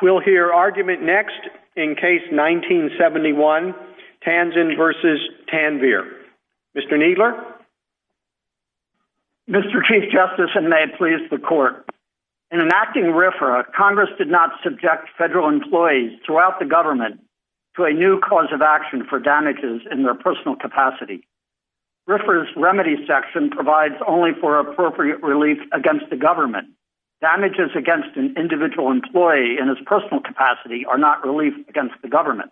We'll hear argument next in case 1971, Tanzin v. Tanvir. Mr. Kneedler? Mr. Chief Justice, and may it please the Court, in enacting RFRA, Congress did not subject federal employees throughout the government to a new cause of action for damages in their personal capacity. RFRA's remedy section provides only for appropriate relief against the government. Damages against an individual employee in his personal capacity are not relief against the government.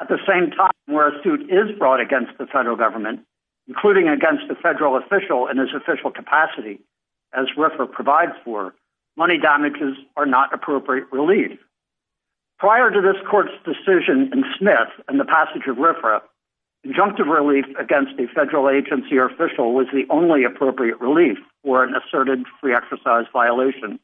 At the same time, where a suit is brought against the federal government, including against a federal official in his official capacity, as RFRA provides for, money damages are not appropriate relief. Prior to this Court's decision in Smith and the passage of RFRA, conjunctive relief against a federal agency or official was the only appropriate relief for an asserted free exercise violation.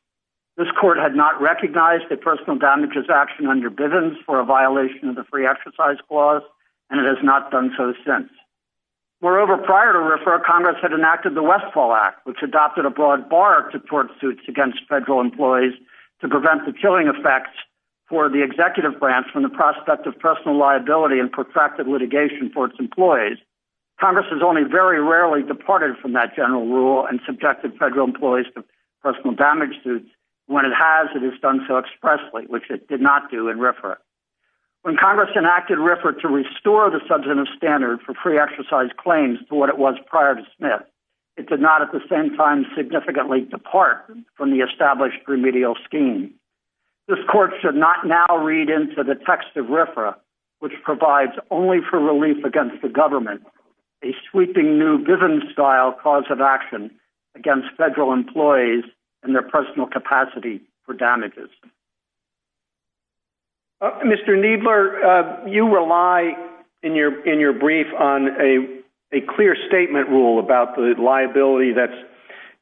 This Court had not recognized the personal damages action under Bivens for a violation of the free exercise clause, and it has not done so since. Moreover, prior to RFRA, Congress had enacted the Westfall Act, which adopted a broad bar to court suits against federal employees to prevent the killing effects for the executive branch from the prospect of personal liability and protracted litigation for its employees. Congress has only very rarely departed from that general rule and subjected federal employees to personal damage suits, and when it has, it has done so expressly, which it did not do in RFRA. When Congress enacted RFRA to restore the substantive standard for free exercise claims to what it was prior to Smith, it did not at the same time significantly depart from the established remedial scheme. This Court should not now read into the text of RFRA, which provides only for relief against the government a sweeping new Bivens-style cause of action against federal employees and their personal capacity for damages. Mr. Kneedler, you rely in your brief on a clear statement rule about the liability that's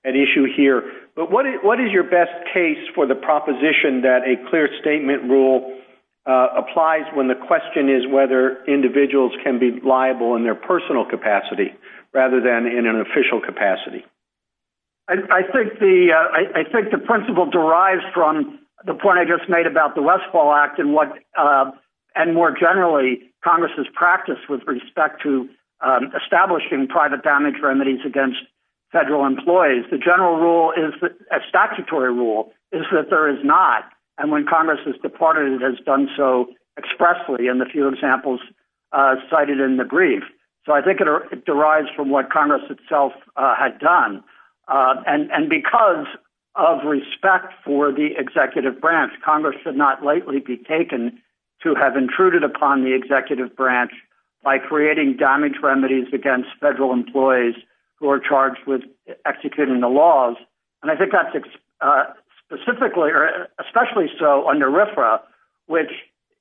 at issue here, but what is your best case for the proposition that a clear statement rule applies when the question is whether individuals can be liable in their personal capacity rather than in an official capacity? I think the principle derives from the point I just made about the Westfall Act and more generally, Congress's practice with respect to establishing private damage remedies against federal employees. The general rule, a statutory rule, is that there is not. And when Congress has departed, it has done so expressly in the few examples cited in the brief. So I think it derives from what Congress itself had done. And because of respect for the executive branch, Congress should not lightly be taken to have intruded upon the executive branch by creating damage remedies against federal employees who are charged with executing the laws. And I think that's specifically or especially so under RFRA, which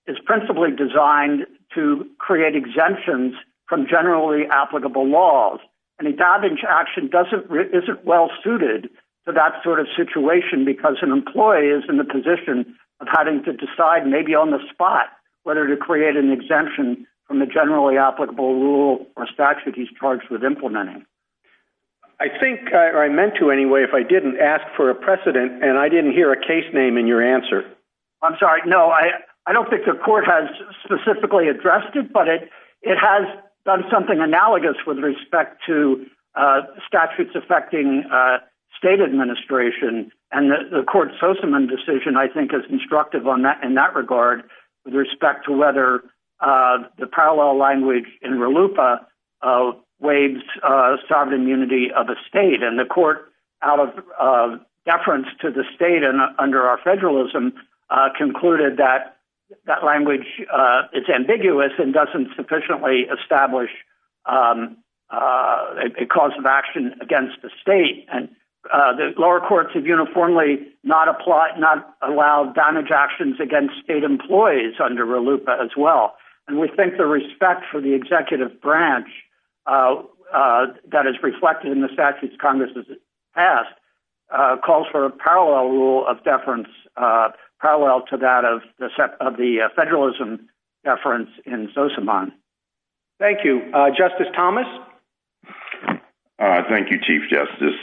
is principally designed to create exemptions from generally applicable laws. Any damage action isn't well suited to that sort of situation because an employee is in the position of having to decide maybe on the spot whether to create an exemption from the generally charged with implementing. I think I meant to anyway, if I didn't ask for a precedent, and I didn't hear a case name in your answer. I'm sorry. No, I don't think the Court has specifically addressed it, but it has done something analogous with respect to statutes affecting state administration. And the Court's Soseman decision, I think, is instructive in that waives sovereign immunity of a state. And the Court, out of deference to the state and under our federalism, concluded that language is ambiguous and doesn't sufficiently establish a cause of action against the state. And the lower courts have uniformly not allowed damage actions against state employees under RLUIPA as well. And we think the respect for the executive branch that is reflected in the statutes Congress has passed calls for a parallel rule of deference, parallel to that of the federalism deference in Soseman. Thank you. Justice Thomas? Thank you, Chief Justice.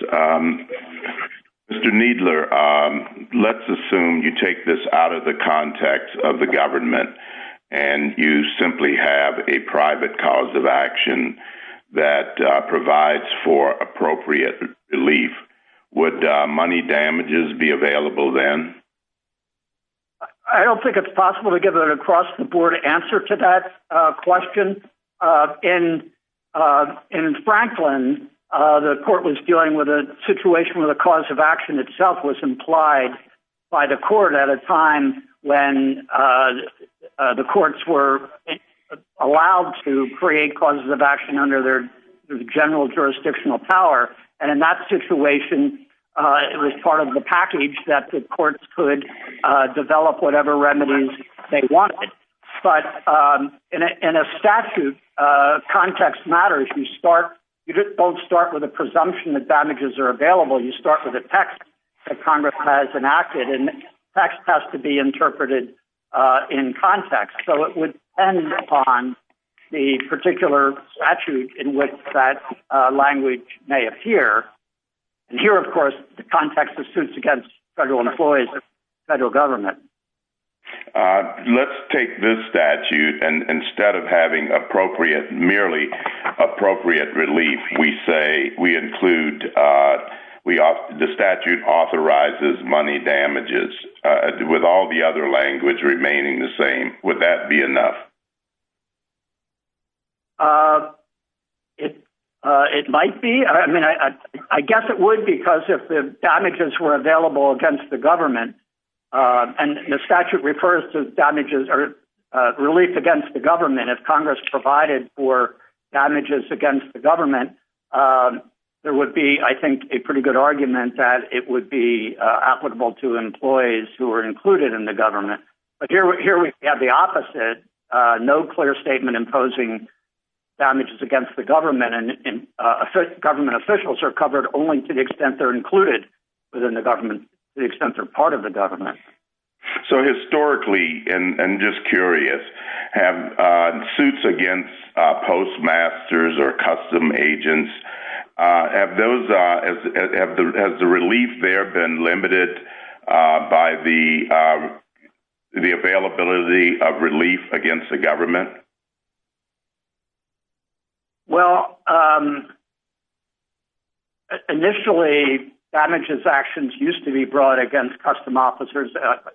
Mr. Kneedler, let's assume you take this out of the context of the action that provides for appropriate relief. Would money damages be available then? I don't think it's possible to give an across-the-board answer to that question. In Franklin, the Court was dealing with a situation where the cause of action itself was implied by the Court at a time when the Courts were allowed to create causes of action under their general jurisdictional power. And in that situation, it was part of the package that the Courts could develop whatever remedies they wanted. But in a statute, context matters. You don't start with presumption that damages are available. You start with a text that Congress has enacted, and the text has to be interpreted in context. So it would depend upon the particular statute in which that language may appear. And here, of course, the context assumes against federal employees of the federal government. Let's take this statute, and instead of having merely appropriate relief, we say we include the statute authorizes money damages with all the other language remaining the same. Would that be enough? It might be. I guess it would because if the damages were available against the government, and the statute refers to relief against the government, if Congress provided for damages against the government, there would be, I think, a pretty good argument that it would be applicable to employees who are included in the government. But here we have the opposite, no clear statement imposing damages against the government, and government officials are covered only to the government. So historically, and I'm just curious, have suits against postmasters or custom agents, has the relief there been limited by the availability of relief against the government? Well, initially, damages actions used to be brought against custom officers.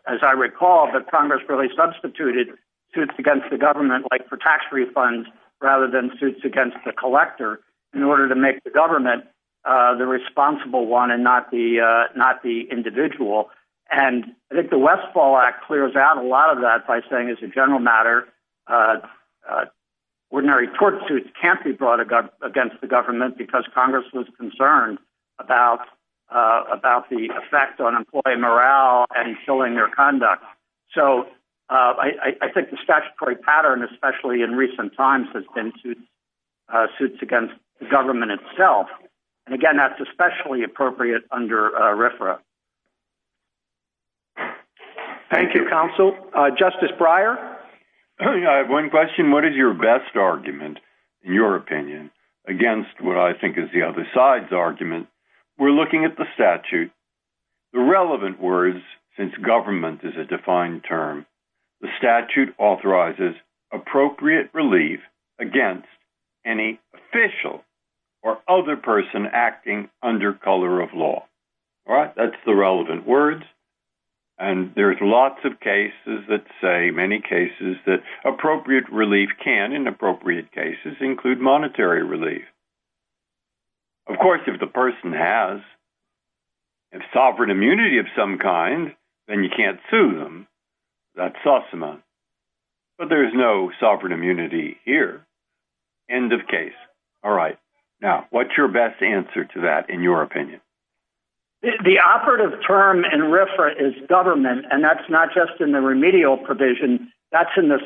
As I recall, the Congress really substituted suits against the government, like for tax refunds, rather than suits against the collector in order to make the government the responsible one and not the individual. And I think the Westfall Act clears out a lot of that by saying, as a general matter, ordinary tort suits can't be brought against the government because Congress was concerned about the effect on employee morale and killing their conduct. So I think the statutory pattern, especially in recent times, has been suits against the government itself. And again, that's especially appropriate under RFRA. Thank you, Counsel. Justice Breyer? I have one question. What is your best argument, in your opinion, against what I think is the other side's argument? We're looking at the statute. The relevant words, since government is a defined term, the statute authorizes appropriate relief against any official or other person acting under color of law. All right, that's the relevant words. And there's lots of cases that appropriate relief can, in appropriate cases, include monetary relief. Of course, if the person has sovereign immunity of some kind, then you can't sue them. That's SOSMA. But there's no sovereign immunity here. End of case. All right. Now, what's your best answer to that, in your opinion? The operative term in RFRA is government, and that's not just in the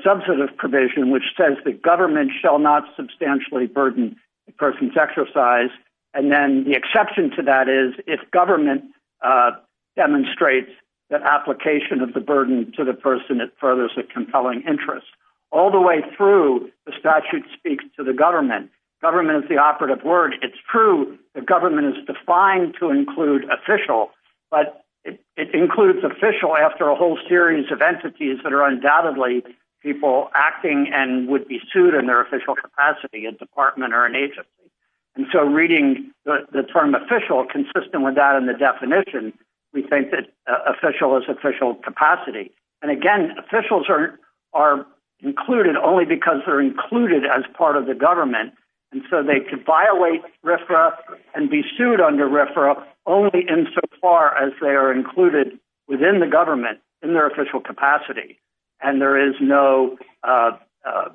substantive provision, which says the government shall not substantially burden the person's exercise. And then the exception to that is if government demonstrates that application of the burden to the person, it furthers a compelling interest. All the way through, the statute speaks to the government. Government is the operative word. It's true the government is defined to people acting and would be sued in their official capacity, a department or an agency. And so reading the term official consistent with that in the definition, we think that official is official capacity. And again, officials are included only because they're included as part of the government. And so they could violate RFRA and be sued under RFRA only insofar as they are no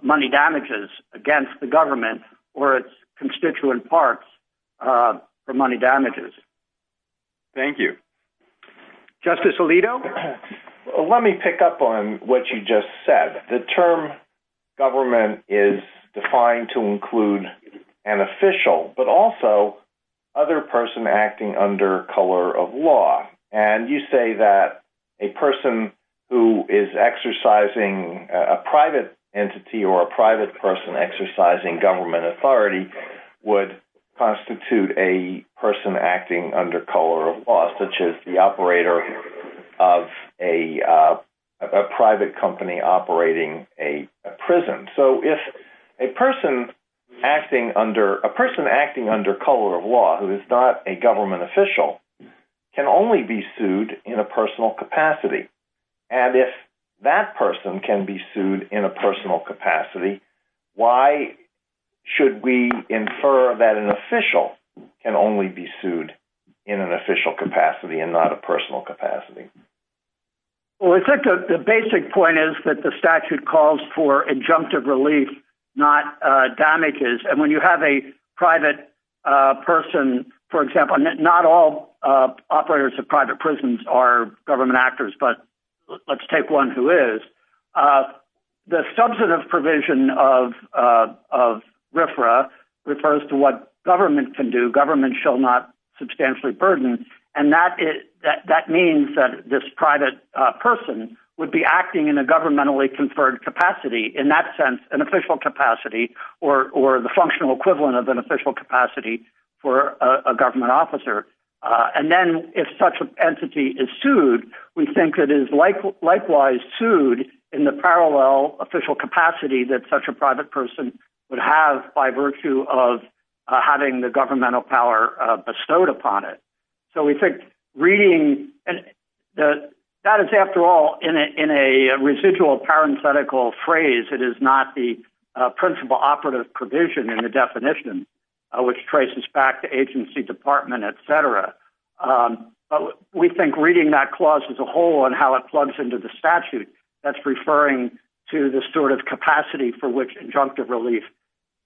money damages against the government or its constituent parts for money damages. Thank you. Justice Alito? Let me pick up on what you just said. The term government is defined to include an official, but also other person acting under color of law. And you say that a person who is exercising a private entity or a private person exercising government authority would constitute a person acting under color of law, such as the operator of a private company operating a prison. So if a person acting under color of law who is not a government official can only be sued in a personal capacity, and if that person can be sued in a personal capacity, why should we infer that an official can only be sued in an official capacity and not a personal capacity? Well, I think the basic point is that the statute calls for injunctive relief, not damages. And when let's take one who is. The substantive provision of RFRA refers to what government can do. Government shall not substantially burden. And that means that this private person would be acting in a governmentally conferred capacity. In that sense, an official capacity or the functional equivalent of an official capacity for a government officer. And then if such an entity is sued, we think it is likewise sued in the parallel official capacity that such a private person would have by virtue of having the governmental power bestowed upon it. So we think reading that that is after all in a residual parenthetical phrase, it is not the operative provision in the definition which traces back to agency, department, etc. But we think reading that clause as a whole and how it plugs into the statute, that's referring to the sort of capacity for which injunctive relief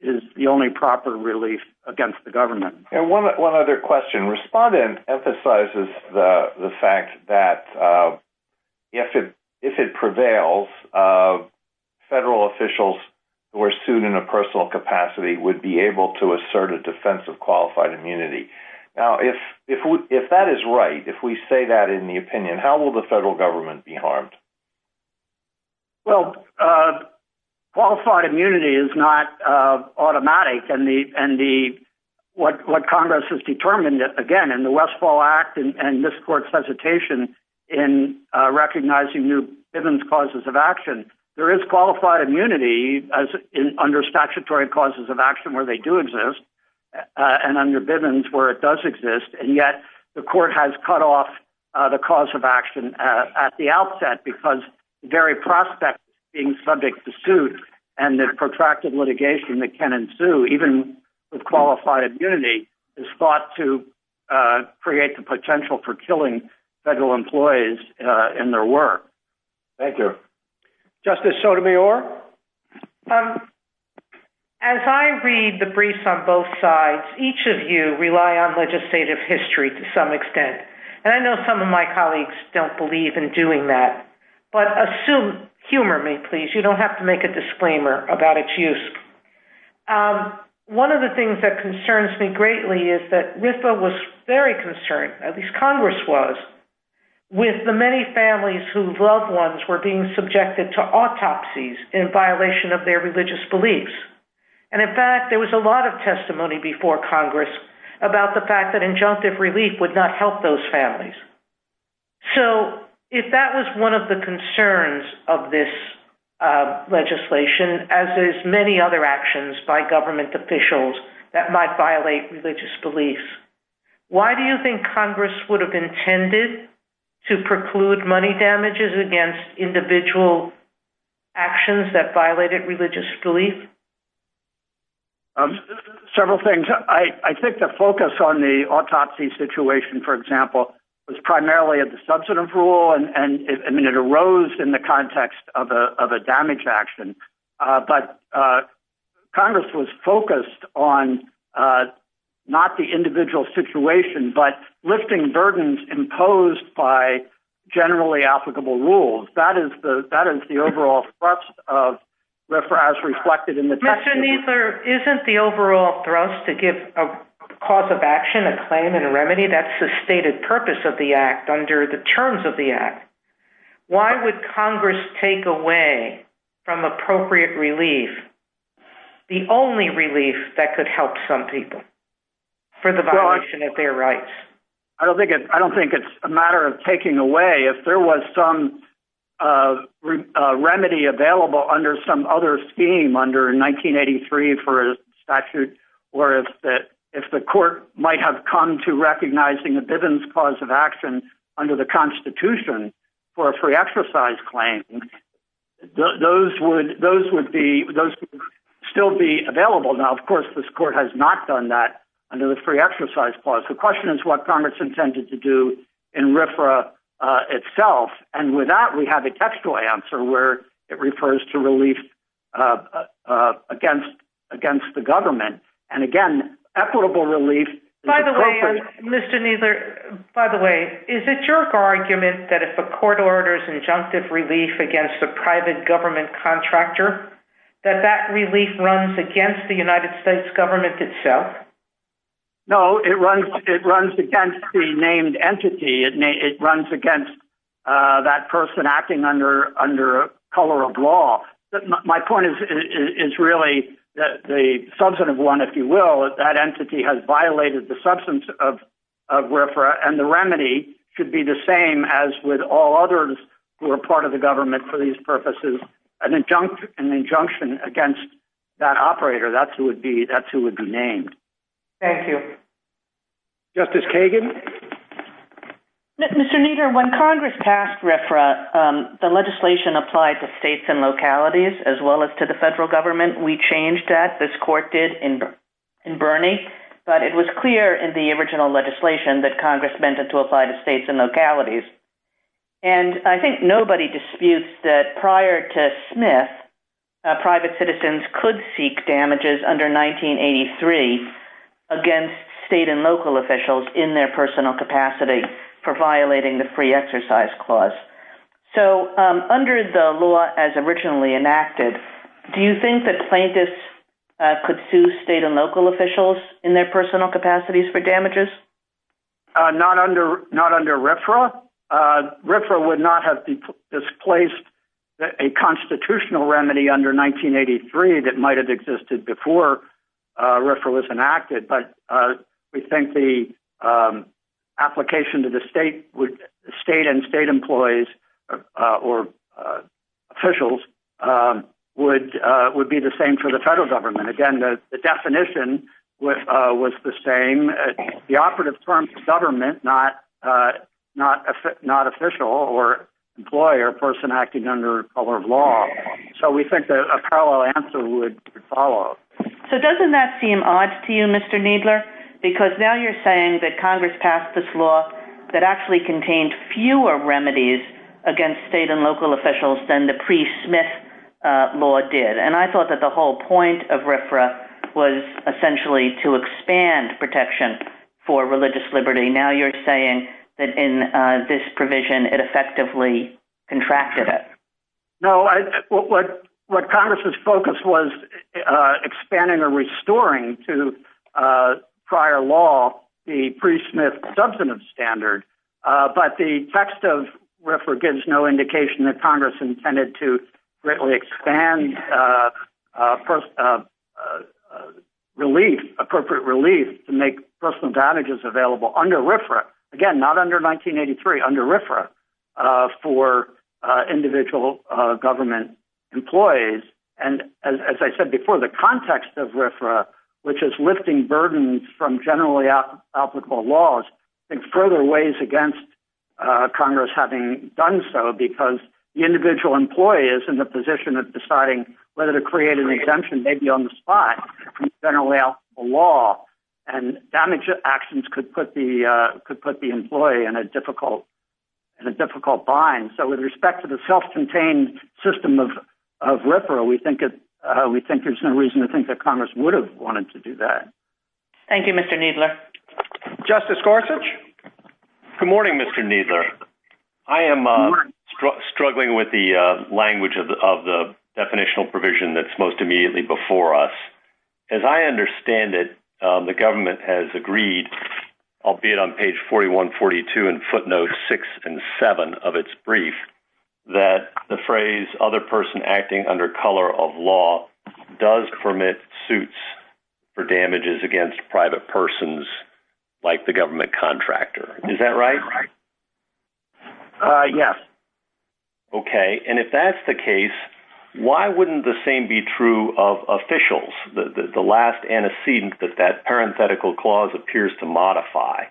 is the only proper relief against the government. And one other question. Respondent emphasizes the fact that if it prevails, uh, federal officials who are sued in a personal capacity would be able to assert a defense of qualified immunity. Now, if, if, if that is right, if we say that in the opinion, how will the federal government be harmed? Well, uh, qualified immunity is not, uh, automatic. And the, and the, what, what Congress has determined that again in the Westfall Act and this court's hesitation in recognizing new Bivens causes of action, there is qualified immunity as under statutory causes of action where they do exist and under Bivens where it does exist. And yet the court has cut off the cause of action at the outset because the very prospect being subject to suit and the protracted litigation that can ensue even with qualified immunity is thought to, uh, create the potential for killing federal employees in their work. Thank you. Justice Sotomayor. Um, as I read the briefs on both sides, each of you rely on legislative history to some extent. And I know some of my colleagues don't believe in doing that, but assume humor me, please. You don't have to make a disclaimer about its use. Um, one of the things that concerns me greatly is that RIPA was very concerned. At least Congress was with the many families who loved ones were being subjected to autopsies in violation of their religious beliefs. And in fact, there was a lot of testimony before Congress about the fact that injunctive relief would not help those families. So if that was one of the concerns of this, uh, legislation, as there's many other actions by government officials that might violate religious beliefs, why do you think Congress would have intended to preclude money damages against individual actions that violated religious belief? Um, several things. I think the focus on the autopsy situation, for example, was primarily at the substantive rule. And I mean, it arose in context of a, of a damage action. Uh, but, uh, Congress was focused on, uh, not the individual situation, but lifting burdens imposed by generally applicable rules. That is the, that is the overall thrust of RIPA as reflected in the text. Mr. Kneedler, isn't the overall thrust to give a cause of action, a claim and a remedy that's the stated purpose of the act under the terms of the Why would Congress take away from appropriate relief, the only relief that could help some people for the violation of their rights? I don't think it, I don't think it's a matter of taking away if there was some, uh, uh, remedy available under some other scheme under 1983 for a statute, or if the, if the court might have come to recognizing the Bivens cause of action under the constitution for a free exercise claim, those would, those would be, those still be available. Now, of course, this court has not done that under the free exercise clause. The question is what Congress intended to do in RFRA, uh, itself. And with that, we have a textual answer where it refers to relief, uh, uh, against, against the government. And again, equitable relief. By the way, Mr. Kneedler, by the way, is it your argument that if a court orders injunctive relief against the private government contractor, that that relief runs against the United States government itself? No, it runs, it runs against the named entity. It may, it runs against, uh, that person acting under color of law. My point is, is really that the substantive one, if you will, that entity has violated the substance of, of where, for, and the remedy should be the same as with all others who are part of the government for these purposes, an injunction, an injunction against that operator. That's who would be, that's who would be named. Thank you. Justice Kagan. Thank you. Mr. Kneedler, when Congress passed RFRA, um, the legislation applied to states and localities as well as to the federal government, we changed that. This court did in, in Bernie, but it was clear in the original legislation that Congress meant it to apply to states and localities. And I think nobody disputes that prior to Smith, uh, private citizens could seek damages under 1983 against state and local officials in their personal capacity for violating the free exercise clause. So, um, under the law as originally enacted, do you think that plaintiffs, uh, could sue state and local officials in their personal capacities for damages? Not under, not under RFRA. Uh, RFRA would not have displaced a constitutional remedy under 1983 that might've existed before, uh, RFRA was enacted. But, uh, we think the, um, application to the state would state and state employees, uh, or, uh, officials, um, would, uh, would be the same for the federal government. Again, the definition was, uh, was the same, uh, the operative term for government, not, uh, not, not official or employee or person acting under color law. So we think that a parallel answer would follow. So doesn't that seem odd to you, Mr. Needler? Because now you're saying that Congress passed this law that actually contained fewer remedies against state and local officials than the pre-Smith, uh, law did. And I thought that the whole point of RFRA was essentially to expand protection for religious liberty. Now you're saying that in, uh, this provision, it effectively contracted it. No, I, what, what, what Congress's focus was, uh, expanding or restoring to, uh, prior law, the pre-Smith substantive standard. Uh, but the text of RFRA gives no indication that Congress intended to greatly expand, uh, uh, uh, uh, relief, appropriate relief to make personal damages available under RFRA. Again, not under 1983, under RFRA, uh, for, uh, individual, uh, government employees. And as I said before, the context of RFRA, which is lifting burdens from generally applicable laws, I think further ways against, uh, Congress having done so because the individual employee is in the position of maybe on the spot from generally applicable law and damage actions could put the, uh, could put the employee in a difficult, in a difficult bind. So with respect to the self-contained system of, of RFRA, we think it, uh, we think there's no reason to think that Congress would have wanted to do that. Thank you, Mr. Kneedler. Justice Gorsuch. Good morning, Mr. Kneedler. I am, uh, struggling with the, uh, language of the, of the definitional provision that's immediately before us. As I understand it, um, the government has agreed, albeit on page 4142 and footnotes six and seven of its brief, that the phrase other person acting under color of law does permit suits for damages against private persons like the government contractor. Is that right? Uh, yes. Okay. And if that's the case, why wouldn't the same be true of officials? The, the, the last antecedent that that parenthetical clause appears to modify.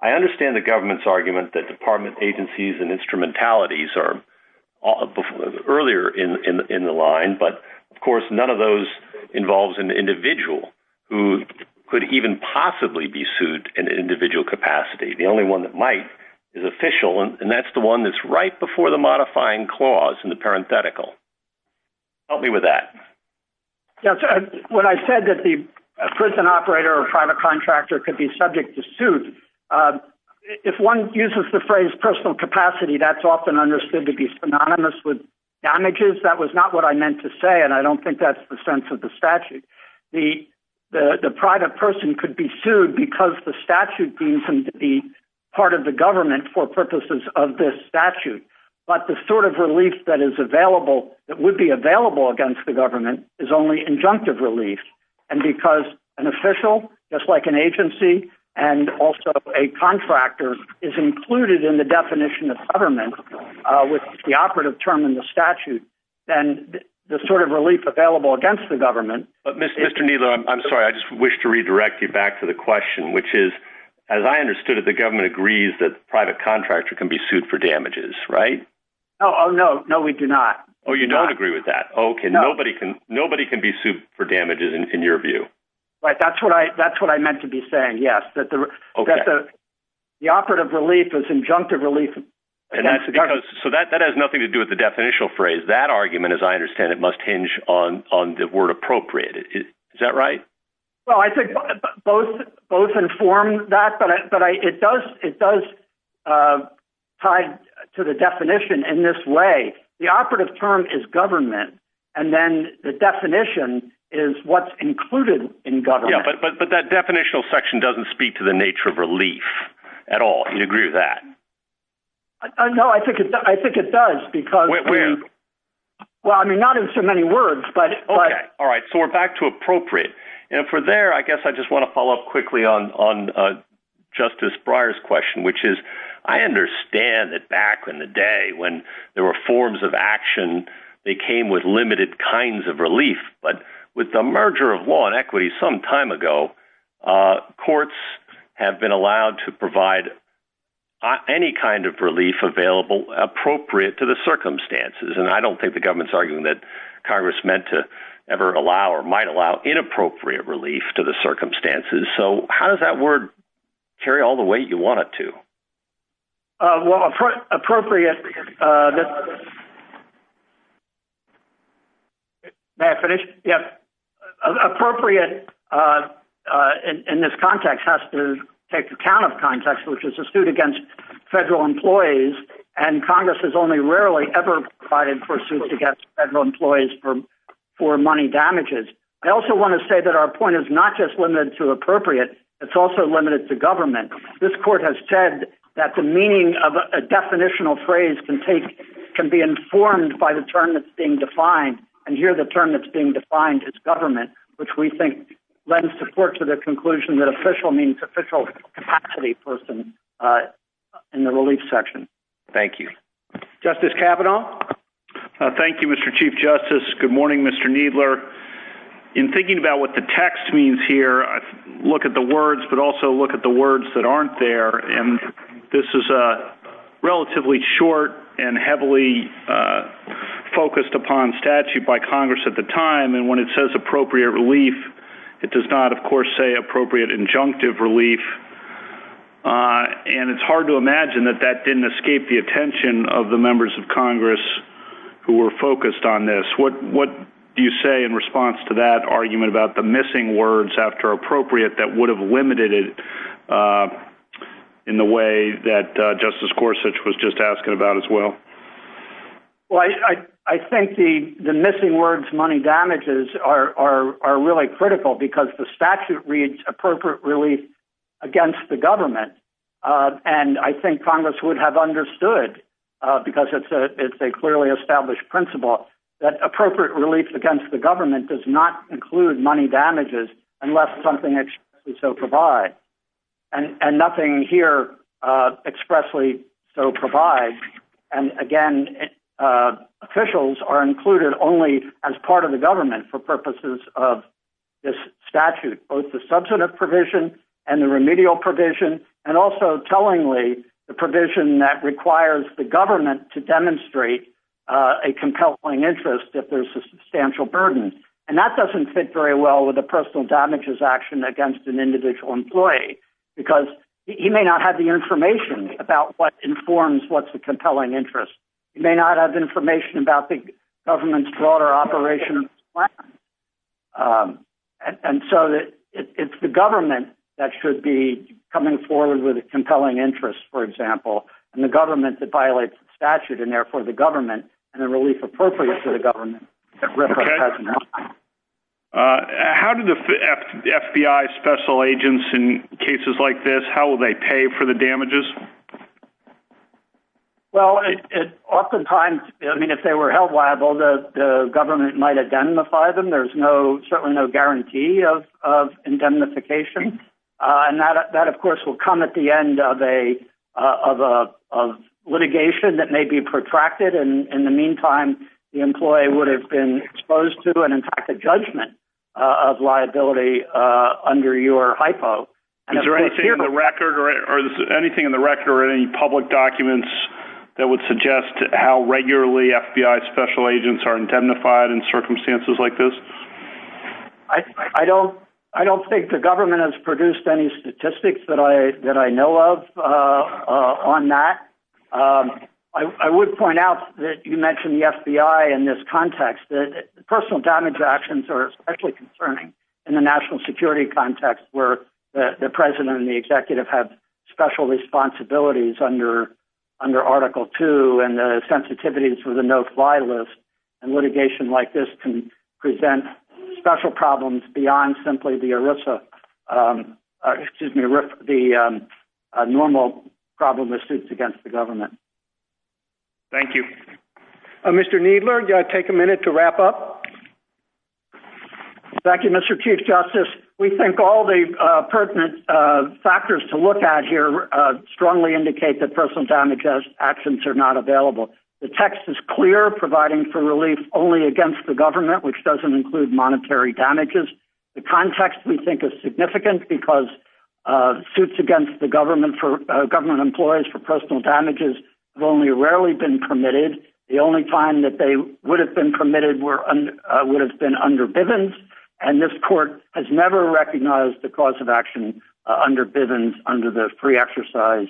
I understand the government's argument that department agencies and instrumentalities are earlier in, in, in the line, but of course, none of those involves an individual who could even possibly be sued in an individual capacity. The only one that might is official. And that's the one that's right before the modifying clause in the parenthetical. Help me with that. Yeah. So when I said that the prison operator or private contractor could be subject to suit, uh, if one uses the phrase personal capacity, that's often understood to be synonymous with damages. That was not what I meant to say. And I don't think that's the sense of the statute. The, the, the private person could be sued because the statute deems him to be part of the government for purposes of this statute. But the sort of relief that is available that would be available against the government is only injunctive relief. And because an official just like an agency and also a contractor is included in the definition of government, uh, with the operative term in the Mr. Nilo, I'm sorry. I just wish to redirect you back to the question, which is, as I understood it, the government agrees that the private contractor can be sued for damages, right? Oh, no, no, we do not. Oh, you don't agree with that. Okay. Nobody can, nobody can be sued for damages in your view, right? That's what I, that's what I meant to be saying. Yes. But the, okay. The operative relief is injunctive relief. And that's because, so that, that has nothing to do with the definitional phrase that argument, as I understand it must hinge on, on the word appropriate. Is that right? Well, I think both, both informed that, but I, but I, it does, it does, uh, tied to the definition in this way, the operative term is government. And then the definition is what's included in government. But that definitional section doesn't speak to the nature of relief at all. You agree with that? No, I think it, I think it does because we, well, I mean, not in so many words, but. Okay. All right. So we're back to appropriate. And for there, I guess I just want to follow up quickly on, on, uh, Justice Breyer's question, which is, I understand that back in the day when there were forms of action, they came with limited kinds of relief, but with the merger of law and equity some time ago, uh, courts have allowed to provide any kind of relief available appropriate to the circumstances. And I don't think the government's arguing that Congress meant to ever allow or might allow inappropriate relief to the circumstances. So how does that word carry all the way you want it to? Uh, well, appropriate, uh, May I finish? Yeah. Appropriate, uh, uh, in, in this context has to take account of context, which is a suit against federal employees. And Congress has only rarely ever provided for suits against federal employees for, for money damages. I also want to say that our point is not just limited to appropriate. It's also limited to government. This court has said that the meaning of a definitional phrase can take, can be informed by the term that's being defined. And here, the term that's being defined as government, which we think lends support to the conclusion that official means official capacity person, uh, in the relief section. Thank you, Justice Kavanaugh. Uh, thank you, Mr. Chief justice. Good morning, Mr. Needler in thinking about what the text means here. Look at the words, but also look at the words that aren't there. And this is a relatively short and heavily, uh, focused upon statute by Congress at the time. And when it says appropriate relief, it does not of course say appropriate injunctive relief. Uh, and it's hard to imagine that that didn't escape the attention of the members of Congress who were focused on this. What, what do you say in response to that argument about the missing words after appropriate that would have limited it, uh, in the way that, uh, justice Gorsuch was just asking about as well. Well, I, I, I think the, the missing words, money damages are, are, are really critical because the statute reads appropriate relief against the government. Uh, and I think Congress would have understood, uh, because it's a, it's a clearly established principle that appropriate relief against the government does not include money damages unless something that we so provide and, and nothing here, uh, expressly so provide. And again, uh, officials are included only as part of the government for purposes of this statute, both the substantive provision and the remedial provision, and also tellingly the provision that requires the government to demonstrate, uh, a compelling interest if there's a substantial burden. And that doesn't fit very well with the personal damages action against an individual employee, because he may not have the information about what informs what's the compelling interest. You may not have information about the government's broader operation. Um, and so it's the government that should be coming forward with a compelling interest, for example, and the government that violates the statute and therefore the government and the relief appropriate for the government. Uh, how did the FBI special agents in cases like this, how will they pay for the damages? Well, oftentimes, I mean, if they were held liable, the government might identify them. There's no, certainly no guarantee of, of indemnification. Uh, and that, that of course will come at the end of a, uh, of a, of litigation that may be protracted. And in the meantime, the employee would have been exposed to an impacted judgment of liability, uh, under your hypo. Is there anything in the record or anything in the record or any public documents that would suggest how regularly FBI special agents are indemnified in circumstances like this? I don't, I don't think the government has produced any statistics that I, that I know of, uh, uh, on that. Um, I, I would point out that you mentioned the FBI in this context, that personal damage actions are actually concerning in the national security context where the president and the executive have special responsibilities under, under article two and the sensitivities for the no fly list and litigation like this can present special problems beyond simply the Arisa, um, uh, excuse me, the, um, uh, normal problem with suits against the government. Thank you, Mr. Needler. Do I take a minute to wrap up? Thank you, Mr. Chief justice. We think all the, uh, pertinent, uh, factors to look at here, uh, strongly indicate that personal damages actions are not available. The text is clear providing for relief only against the damages. The context we think is significant because, uh, suits against the government for government employees for personal damages have only rarely been permitted. The only time that they would have been permitted were, uh, would have been under Bivens. And this court has never recognized the cause of action, uh, under Bivens under the free exercise,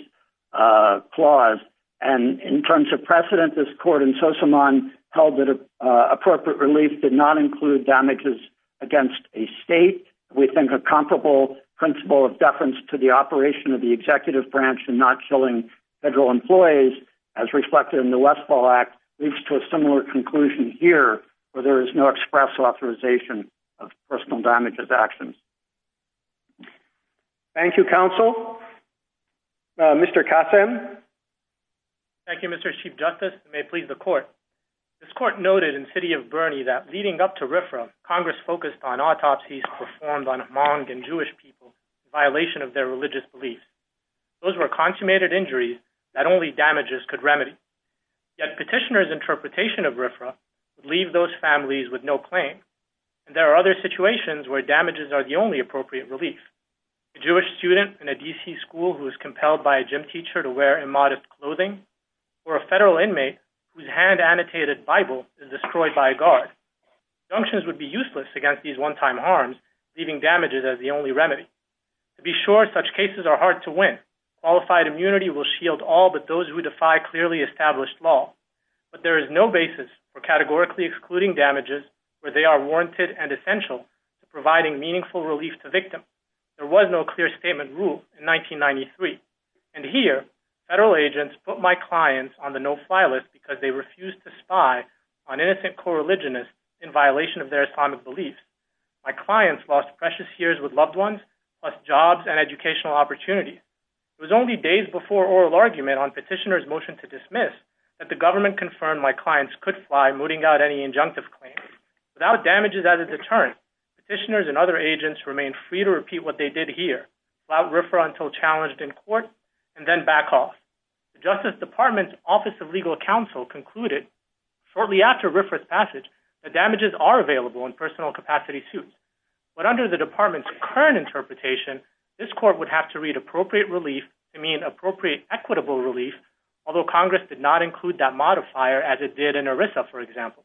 uh, clause. And in terms of precedent, this court and social mom held that, uh, appropriate relief did not include damages against a state. We think a comparable principle of deference to the operation of the executive branch and not killing federal employees as reflected in the Westfall act leads to a similar conclusion here, where there is no express authorization of personal damages actions. Thank you, counsel. Uh, Mr. Kasem. Thank you, Mr. Chief justice may please the court. This court noted in city of Bernie that leading up to RFRA, Congress focused on autopsies performed on Hmong and Jewish people violation of their religious beliefs. Those were consummated injuries that only damages could remedy. Yet petitioner's interpretation of RFRA would leave those families with no claim. And there are other situations where damages are the only appropriate relief. A Jewish student in a DC school who was compelled by a gym teacher to wear immodest clothing or a federal inmate whose hand annotated Bible is destroyed by a guard junctions would be useless against these one-time harms, leaving damages as the only remedy to be sure such cases are hard to win. Qualified immunity will shield all, but those who defy clearly established law, but there is no basis for categorically excluding damages where they are warranted and essential to providing meaningful relief to victim. There was no clear statement rule in 1993. And here federal agents put my clients on the no-fly list because they refused to spy on innocent coreligionists in violation of their Islamic beliefs. My clients lost precious years with loved ones, plus jobs and educational opportunities. It was only days before oral argument on petitioner's motion to dismiss that the government confirmed my clients could fly mooting out any injunctive claims. Without damages as a deterrent, petitioners and other agents remain free to repeat what they did here, without referral until challenged in court, and then back off. The Justice Department's Office of Legal Counsel concluded shortly after RFRA's passage that damages are available in personal capacity suits. But under the department's current interpretation, this court would have to read appropriate relief to mean appropriate equitable relief, although Congress did not include that modifier as it did in ERISA, for example.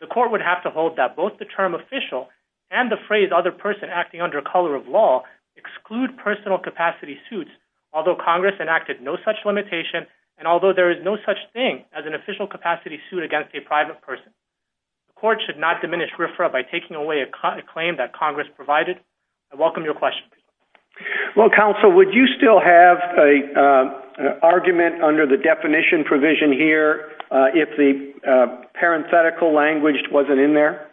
The court would have to hold that both the term official and the phrase other person acting under color of law exclude personal capacity suits, although Congress enacted no such limitation, and although there is no such thing as an official capacity suit against a private person. The court should not diminish RFRA by taking away a claim that Congress provided. I welcome your questions. Well, counsel, would you still have an argument under the definition provision here if the parenthetical language wasn't in there?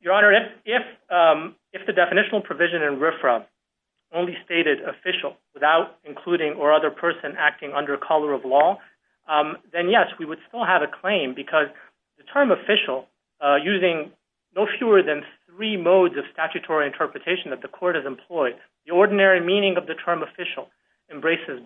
Your Honor, if the definitional provision in RFRA only stated official without including or other person acting under color of law, then yes, we would still have a claim because the term official, using no fewer than three modes of statutory interpretation that the court has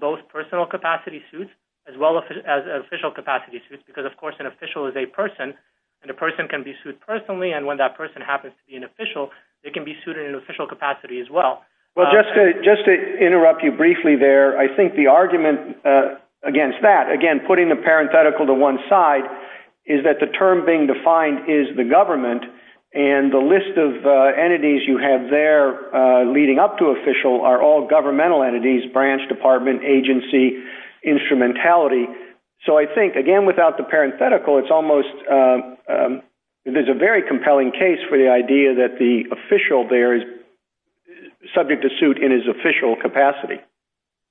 both personal capacity suits as well as official capacity suits, because, of course, an official is a person, and a person can be sued personally, and when that person happens to be an official, they can be sued in an official capacity as well. Well, just to interrupt you briefly there, I think the argument against that, again, putting the parenthetical to one side, is that the term being defined is the government, and the list of entities you have there leading up to official are all governmental entities, branch, department, agency, instrumentality. So I think, again, without the parenthetical, there's a very compelling case for the idea that the official there is subject to suit in his official capacity.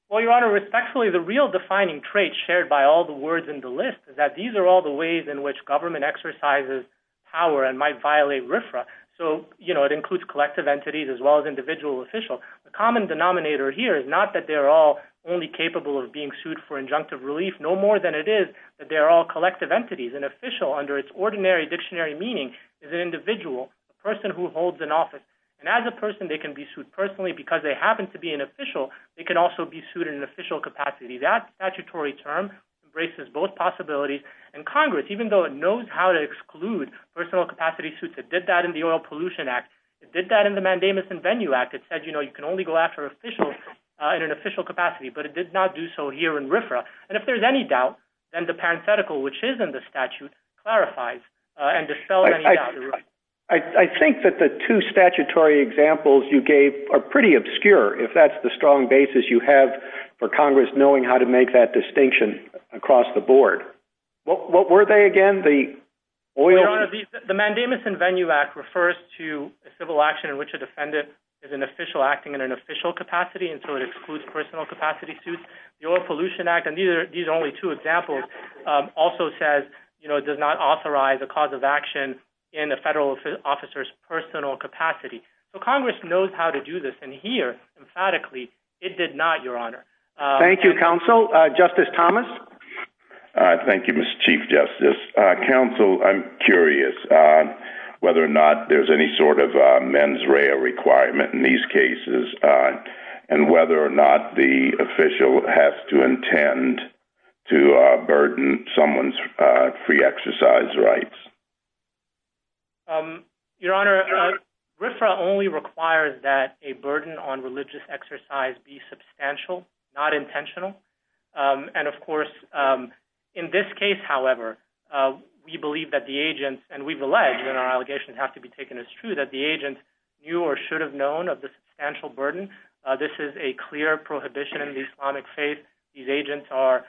Well, Your Honor, respectfully, the real defining trait shared by all the words in the list is that these are all the ways in which government exercises power and might violate RFRA. So it includes collective entities as well as individual official. The common denominator here is not that they're all only capable of being sued for injunctive relief. No more than it is that they're all collective entities. An official, under its ordinary dictionary meaning, is an individual, a person who holds an office, and as a person, they can be sued personally. Because they happen to be an official, they can also be sued in an official capacity. That statutory term embraces both possibilities, and Congress, even though it knows how to exclude personal capacity suits, it did that in the Oil Act. It said, you know, you can only go after officials in an official capacity, but it did not do so here in RFRA. And if there's any doubt, then the parenthetical, which is in the statute, clarifies and dispels any doubt. I think that the two statutory examples you gave are pretty obscure, if that's the strong basis you have for Congress knowing how to make that distinction across the board. What were they again? The oil... Your Honor, the Mandamus and Venue Act refers to a civil action in which a defendant is an official acting in an official capacity, and so it excludes personal capacity suits. The Oil Pollution Act, and these are only two examples, also says, you know, it does not authorize a cause of action in a federal officer's personal capacity. So Congress knows how to do this, and here, emphatically, it did not, Your Honor. Thank you, Counsel. Justice Thomas? Thank you, Mr. Chief Justice. Counsel, I'm curious whether or not there's any sort of mens rea requirement in these cases, and whether or not the official has to intend to burden someone's free exercise rights. Your Honor, RFRA only requires that a burden on in this case, however, we believe that the agents, and we've alleged, and our allegations have to be taken as true, that the agent knew or should have known of the substantial burden. This is a clear prohibition in the Islamic faith. These agents are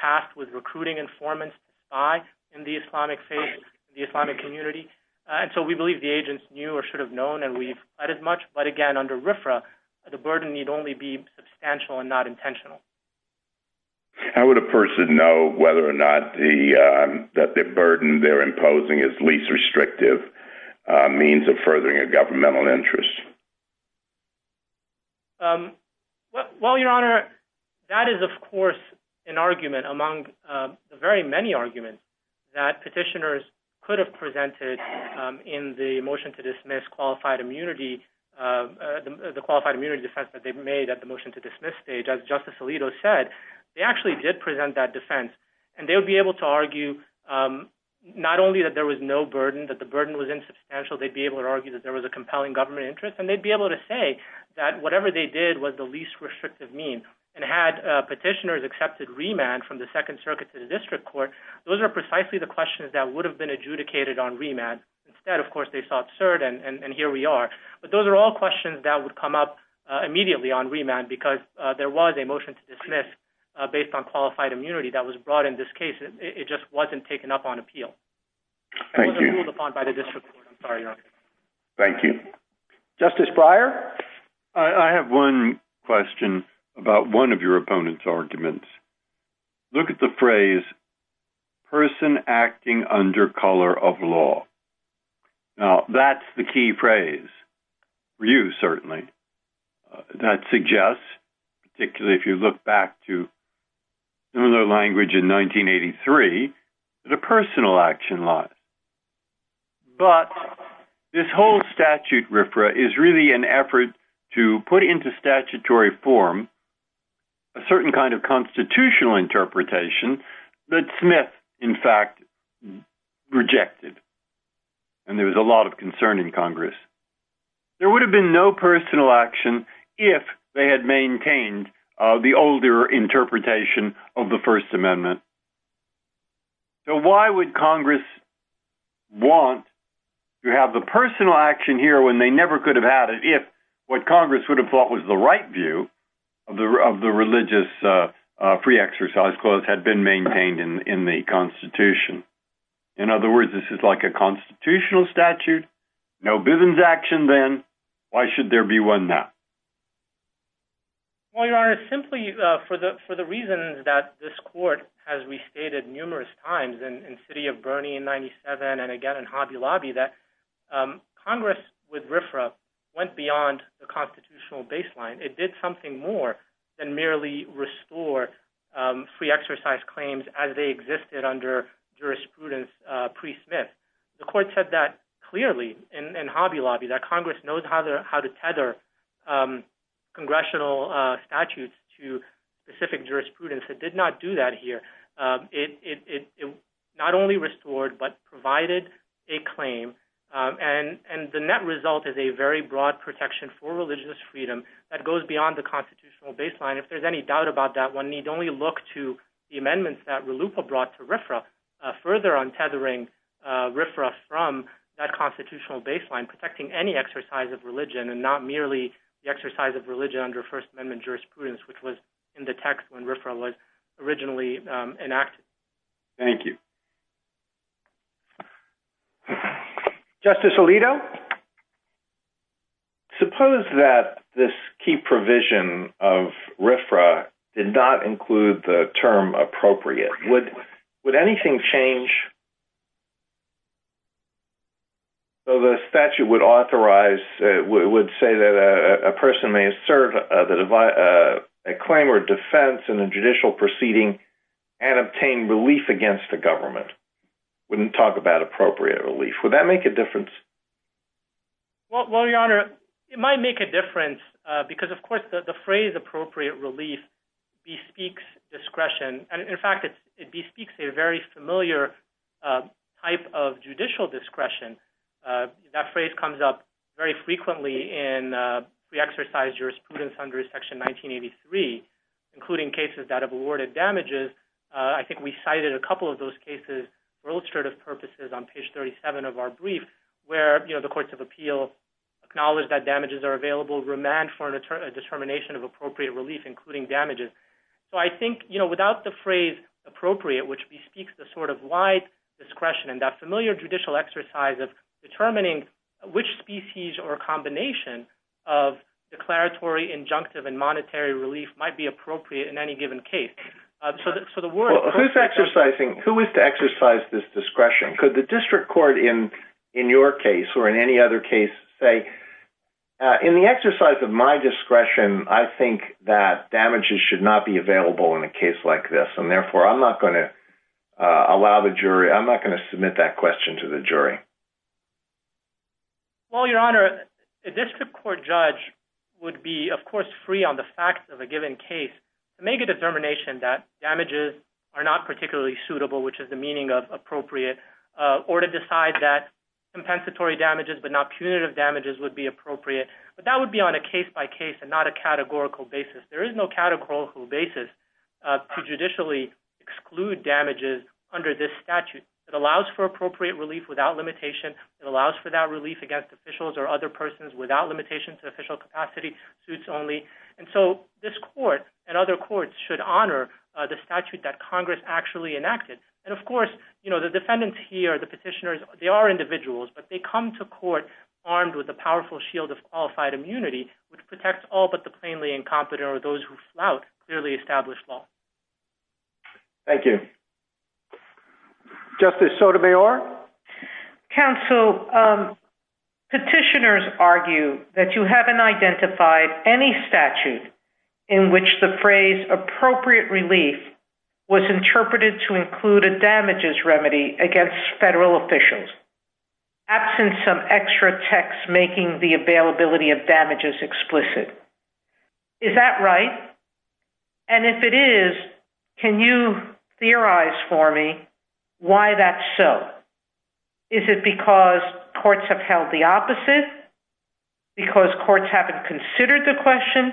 tasked with recruiting informants to spy in the Islamic faith, the Islamic community, and so we believe the agents knew or should have known, and we've said as much, but again, under RFRA, the burden need only be substantial and not whether or not the burden they're imposing is least restrictive means of furthering a governmental interest. Well, Your Honor, that is, of course, an argument among the very many arguments that petitioners could have presented in the motion to dismiss qualified immunity, the qualified immunity defense that they've made at the motion to dismiss stage. As Justice Alito said, they actually did present that defense, and they would be able to argue not only that there was no burden, that the burden was insubstantial, they'd be able to argue that there was a compelling government interest, and they'd be able to say that whatever they did was the least restrictive mean, and had petitioners accepted remand from the Second Circuit to the District Court, those are precisely the questions that would have been adjudicated on remand. Instead, of course, they sought cert, and here we are, but those are all questions that would come up immediately on remand because there was a motion to dismiss based on qualified immunity that was brought in this case. It just wasn't taken up on appeal. Thank you. It wasn't ruled upon by the District Court. I'm sorry, Your Honor. Thank you. Justice Breyer? I have one question about one of your opponent's arguments. Look at the phrase, person acting under color of law. Now, that's the key phrase, for you certainly. That suggests, particularly if you look back to similar language in 1983, that a personal action law. But this whole statute, RFRA, is really an effort to put into statutory form a certain kind of constitutional interpretation that Smith, in fact, rejected, and there was a lot of concern in Congress. There would have been no personal action if they had maintained the older interpretation of the First Amendment. So, why would Congress want to have the personal action here when they never could have had it if what Congress would have thought was the right view of the religious free exercise clause had been maintained in the Constitution? In other words, this is like a constitutional statute, no business action then, why should there be one now? Well, Your Honor, simply for the reasons that this court has restated numerous times in City of Bernie in 97 and again in Hobby Lobby, that Congress with RFRA went beyond the constitutional baseline. It did something more than merely restore free exercise claims as they existed under jurisprudence pre-Smith. The court said that clearly in Hobby Lobby, that Congress knows how to tether congressional statutes to specific jurisprudence. It did not do that here. It not only restored but provided a claim and the net result is a very broad protection for religious freedom that goes beyond the constitutional baseline. If there's any doubt about that, one need only look to the amendments that RLUIPA brought to RFRA further on tethering RFRA from that constitutional baseline, protecting any exercise of religion and not merely the exercise of religion under First Amendment jurisprudence, which was in the text when RFRA was originally enacted. Thank you. Justice Alito, suppose that this key provision of RFRA did not include the term appropriate. Would anything change so the statute would authorize, would say that a person may assert a claim or wouldn't talk about appropriate relief. Would that make a difference? Well, Your Honor, it might make a difference because, of course, the phrase appropriate relief bespeaks discretion. In fact, it bespeaks a very familiar type of judicial discretion. That phrase comes up very frequently in free exercise jurisprudence under Section 1983, including cases that have awarded damages. I think we cited a couple of those cases for illustrative purposes on page 37 of our brief, where the courts of appeal acknowledge that damages are available, remand for a determination of appropriate relief, including damages. So I think without the phrase appropriate, which bespeaks the sort of wide discretion and that familiar judicial exercise of determining which species or combination of declaratory, injunctive, and monetary relief might be appropriate in any given case. Who is to exercise this discretion? Could the district court in your case or in any other case say, in the exercise of my discretion, I think that damages should not be available in a case like this, and therefore I'm not going to allow the jury, I'm not going to submit that question to the jury? Well, Your Honor, a district court judge would be, of course, free on the facts of a given case to make a determination that damages are not particularly suitable, which is the meaning of appropriate, or to decide that compensatory damages but not punitive damages would be appropriate. But that would be on a case-by-case and not a categorical basis. There is no categorical basis to judicially exclude damages under this statute that allows for relief without limitation. It allows for that relief against officials or other persons without limitation to official capacity, suits only. And so this court and other courts should honor the statute that Congress actually enacted. And of course, you know, the defendants here, the petitioners, they are individuals, but they come to court armed with a powerful shield of qualified immunity, which protects all but the plainly incompetent or those who flout clearly established law. Thank you. Justice Sotomayor? Counsel, petitioners argue that you haven't identified any statute in which the phrase appropriate relief was interpreted to include a damages remedy against federal officials, absent some extra text making the availability of damages explicit. Is that right? And if it is, can you theorize for me why that's so? Is it because courts have held the opposite? Because courts haven't considered the question?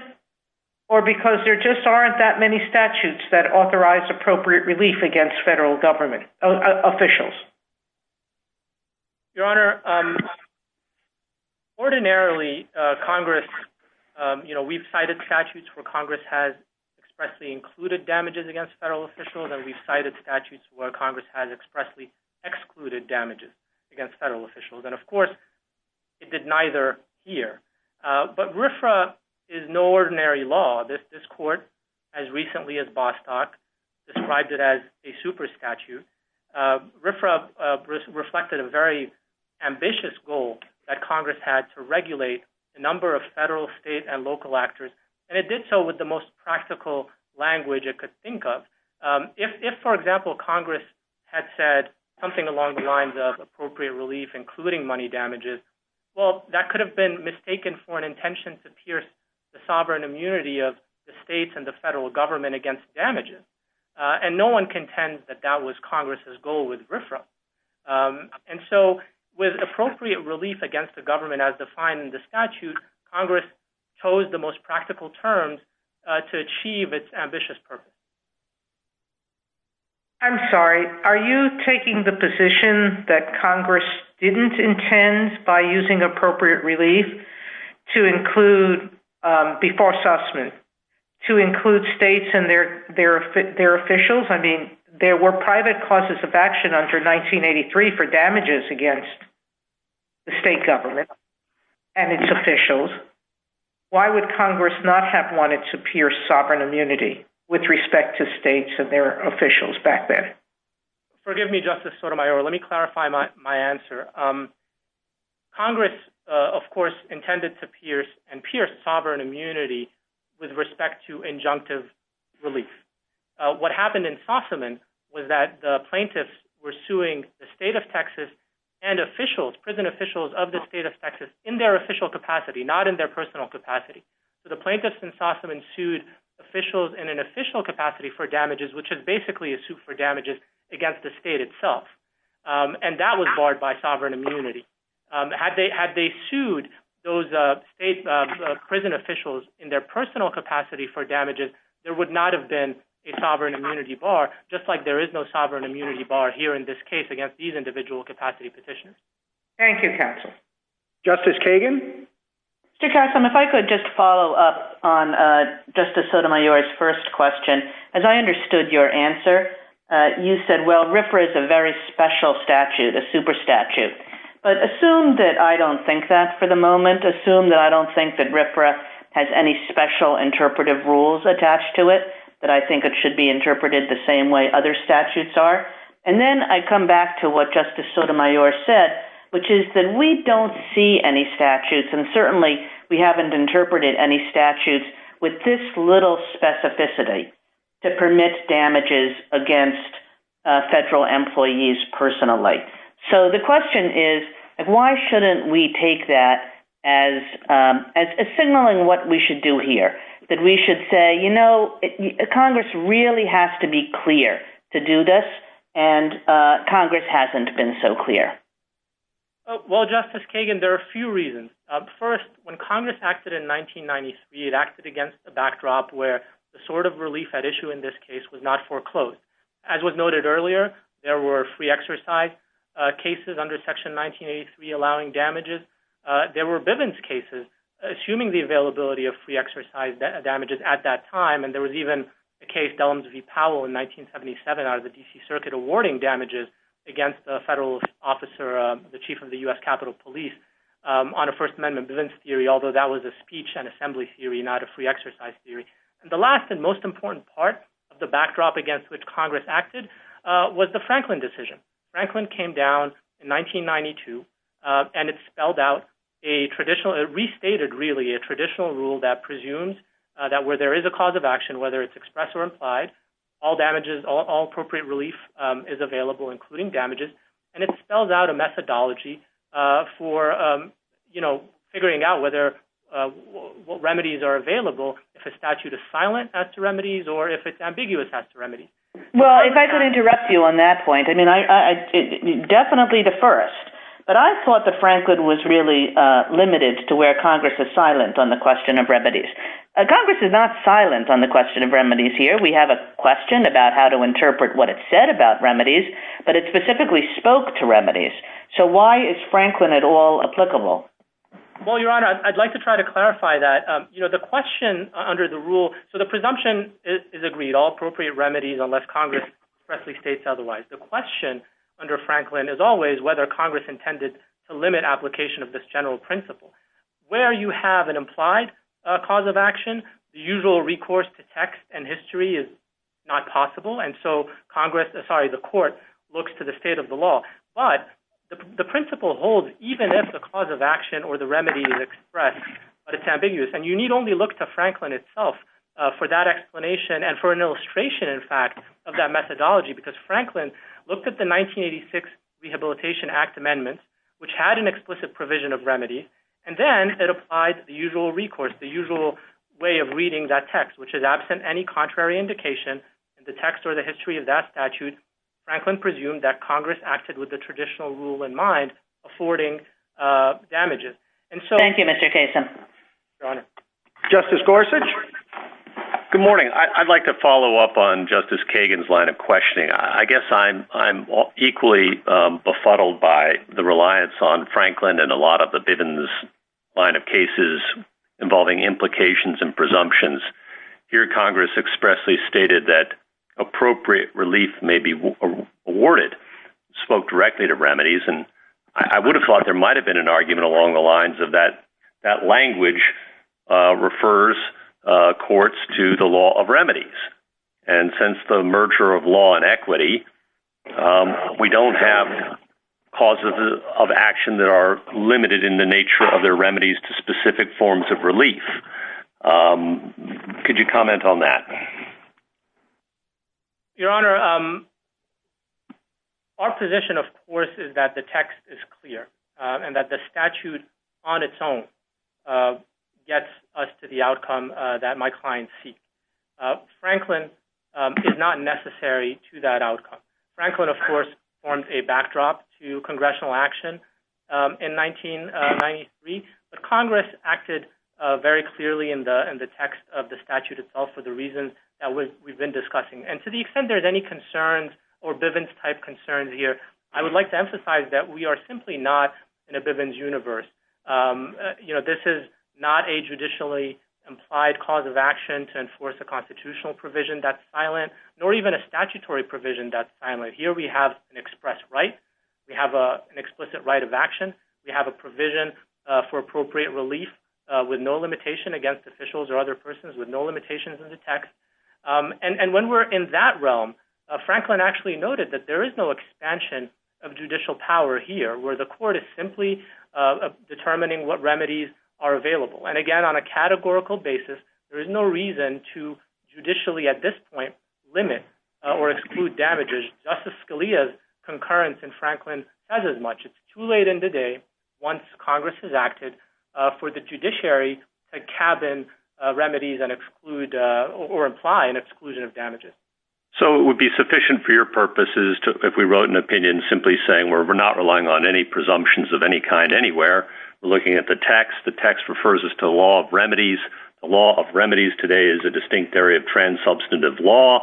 Or because there just aren't that many statutes that authorize appropriate relief against federal government officials? Your Honor, ordinarily, Congress, you know, we've cited statutes where Congress has expressly included damages against federal officials. And we've cited statutes where Congress has expressly excluded damages against federal officials. And of course, it did neither here. But RFRA is no ordinary law. This court, as recently as Bostock, described it as a super statute. RFRA reflected a very ambitious goal that Congress had to regulate the number of federal, state, and local actors. And it did so with the most practical language it could think of. If, for example, Congress had said something along the lines of appropriate relief, including money damages, well, that could have been mistaken for an intention to pierce the sovereign immunity of the states and the federal government against damages. And no one contends that that was Congress's goal with RFRA. And so with appropriate relief against the government as defined in the statute, Congress chose the most practical terms to achieve its ambitious purpose. I'm sorry, are you taking the position that Congress didn't intend by using appropriate relief to include, before Sussman, to include states and their officials? I mean, there were private causes of action under 1983 for damages against the state government and its officials. Why would Congress not have wanted to pierce sovereign immunity with respect to states and their officials back then? Forgive me, Justice Sotomayor, let me clarify my answer. Congress, of course, intended to pierce and pierce sovereign immunity with respect to injunctive relief. What happened in Sussman was that the plaintiffs were suing the state of Texas and officials, prison officials of the state of Texas, in their official capacity, not in their personal capacity. So the plaintiffs in Sussman sued officials in an official capacity for damages, which is basically a suit for damages against the state itself. And that was barred by sovereign immunity. Had they sued those state prison officials in their personal capacity for damages, there would not have been a sovereign immunity bar, just like there is no sovereign immunity bar here in this case against these individual capacity petitioners. Thank you, counsel. Justice Kagan? Mr. Kassam, if I could just follow up on Justice Sotomayor's first question. As I understood your answer, you said, well, RFRA is a very special statute, a super statute. But assume that I don't think that for the moment. Assume that I don't think that RFRA has any special interpretive rules attached to it, that I think it should be interpreted the same way other statutes are. And then I come back to what Justice Sotomayor said, which is that we don't see any statutes, and certainly we haven't interpreted any statutes with this little specificity to permit damages against federal employees personally. So the question is, why shouldn't we take that as signaling what we should do here, that we should say, you know, Congress really has to be clear to do this, and Congress hasn't been so clear? Well, Justice Kagan, there are a few reasons. First, when Congress acted in 1993, it acted against the backdrop where the sort of relief at issue in this case was not foreclosed. As was noted earlier, there were free exercise cases under Section 1983 allowing damages. There were Bivens cases, assuming the availability of free exercise damages at that time, and there was even a case, Dellums v. Powell in 1977 out of the D.C. Circuit awarding damages against a federal officer, the chief of the U.S. Capitol Police, on a First Amendment Bivens theory, although that was a speech and assembly theory, not a free exercise theory. And the last and most important part of the backdrop against which Congress acted was the Franklin decision. Franklin came down in 1992, and it spelled out a traditional, it restated really a traditional rule that presumes that where there is a cause of action, whether it's expressed or implied, all damages, all appropriate relief is available, including damages, and it spells out a methodology for, you know, figuring out whether, what remedies are available, if a statute is silent as to remedies, or if it's ambiguous as to remedies. Well, if I could interrupt you on that point, I mean, definitely the first, but I thought that Franklin was really limited to where Congress is silent on the question of remedies. Congress is not silent on the question of remedies here. We have a question about how to interpret what it said about remedies, but it specifically spoke to remedies. So why is Franklin at all applicable? Well, Your Honor, I'd like to try to clarify that. You know, the question under the rule, so the presumption is agreed, all appropriate remedies unless Congress expressly states otherwise. The question under Franklin is always whether Congress intended to limit application of this general principle. Where you have an implied cause of action, the usual recourse to text and history is not possible, and so Congress, sorry, the court looks to the state of the law, but the principle holds even if the cause of action or the remedy is expressed, but it's ambiguous, and you need only look to Franklin itself for that explanation and for an illustration, in fact, of that methodology, because Franklin looked at the which had an explicit provision of remedy, and then it applied the usual recourse, the usual way of reading that text, which is absent any contrary indication in the text or the history of that statute. Franklin presumed that Congress acted with the traditional rule in mind, affording damages. Thank you, Mr. Kasin. Your Honor. Justice Gorsuch. Good morning. I'd like to follow up on Justice Kagan's line of questioning. I guess I'm equally befuddled by the reliance on Franklin and a lot of the Bivens line of cases involving implications and presumptions. Here, Congress expressly stated that appropriate relief may be awarded, spoke directly to remedies, and I would have thought there might have been an argument along the lines of that language refers courts to the law of remedies, and since the merger of law and cause of action that are limited in the nature of their remedies to specific forms of relief, could you comment on that? Your Honor, our position, of course, is that the text is clear and that the statute on its own gets us to the outcome that my client seeks. Franklin is not necessary to that outcome. Franklin, of course, formed a backdrop to congressional action in 1993, but Congress acted very clearly in the text of the statute itself for the reasons that we've been discussing, and to the extent there's any concerns or Bivens-type concerns here, I would like to emphasize that we are simply not in a Bivens universe. You know, this is not a judicially implied cause of action to enforce a constitutional provision that's silent, nor even a statutory provision that's silent. Here, we have an expressed right. We have an explicit right of action. We have a provision for appropriate relief with no limitation against officials or other persons, with no limitations in the text, and when we're in that realm, Franklin actually noted that there is no expansion of judicial power here, where the court is simply determining what remedies are available, and again, on a categorical basis, there is no reason to judicially, at this point, limit or exclude damages. Justice Scalia's concurrence in Franklin says as much. It's too late in the day, once Congress has acted, for the judiciary to cabin remedies and exclude or imply an exclusion of damages. So it would be sufficient for your anywhere. We're looking at the text. The text refers us to the law of remedies. The law of remedies today is a distinct area of trans-substantive law.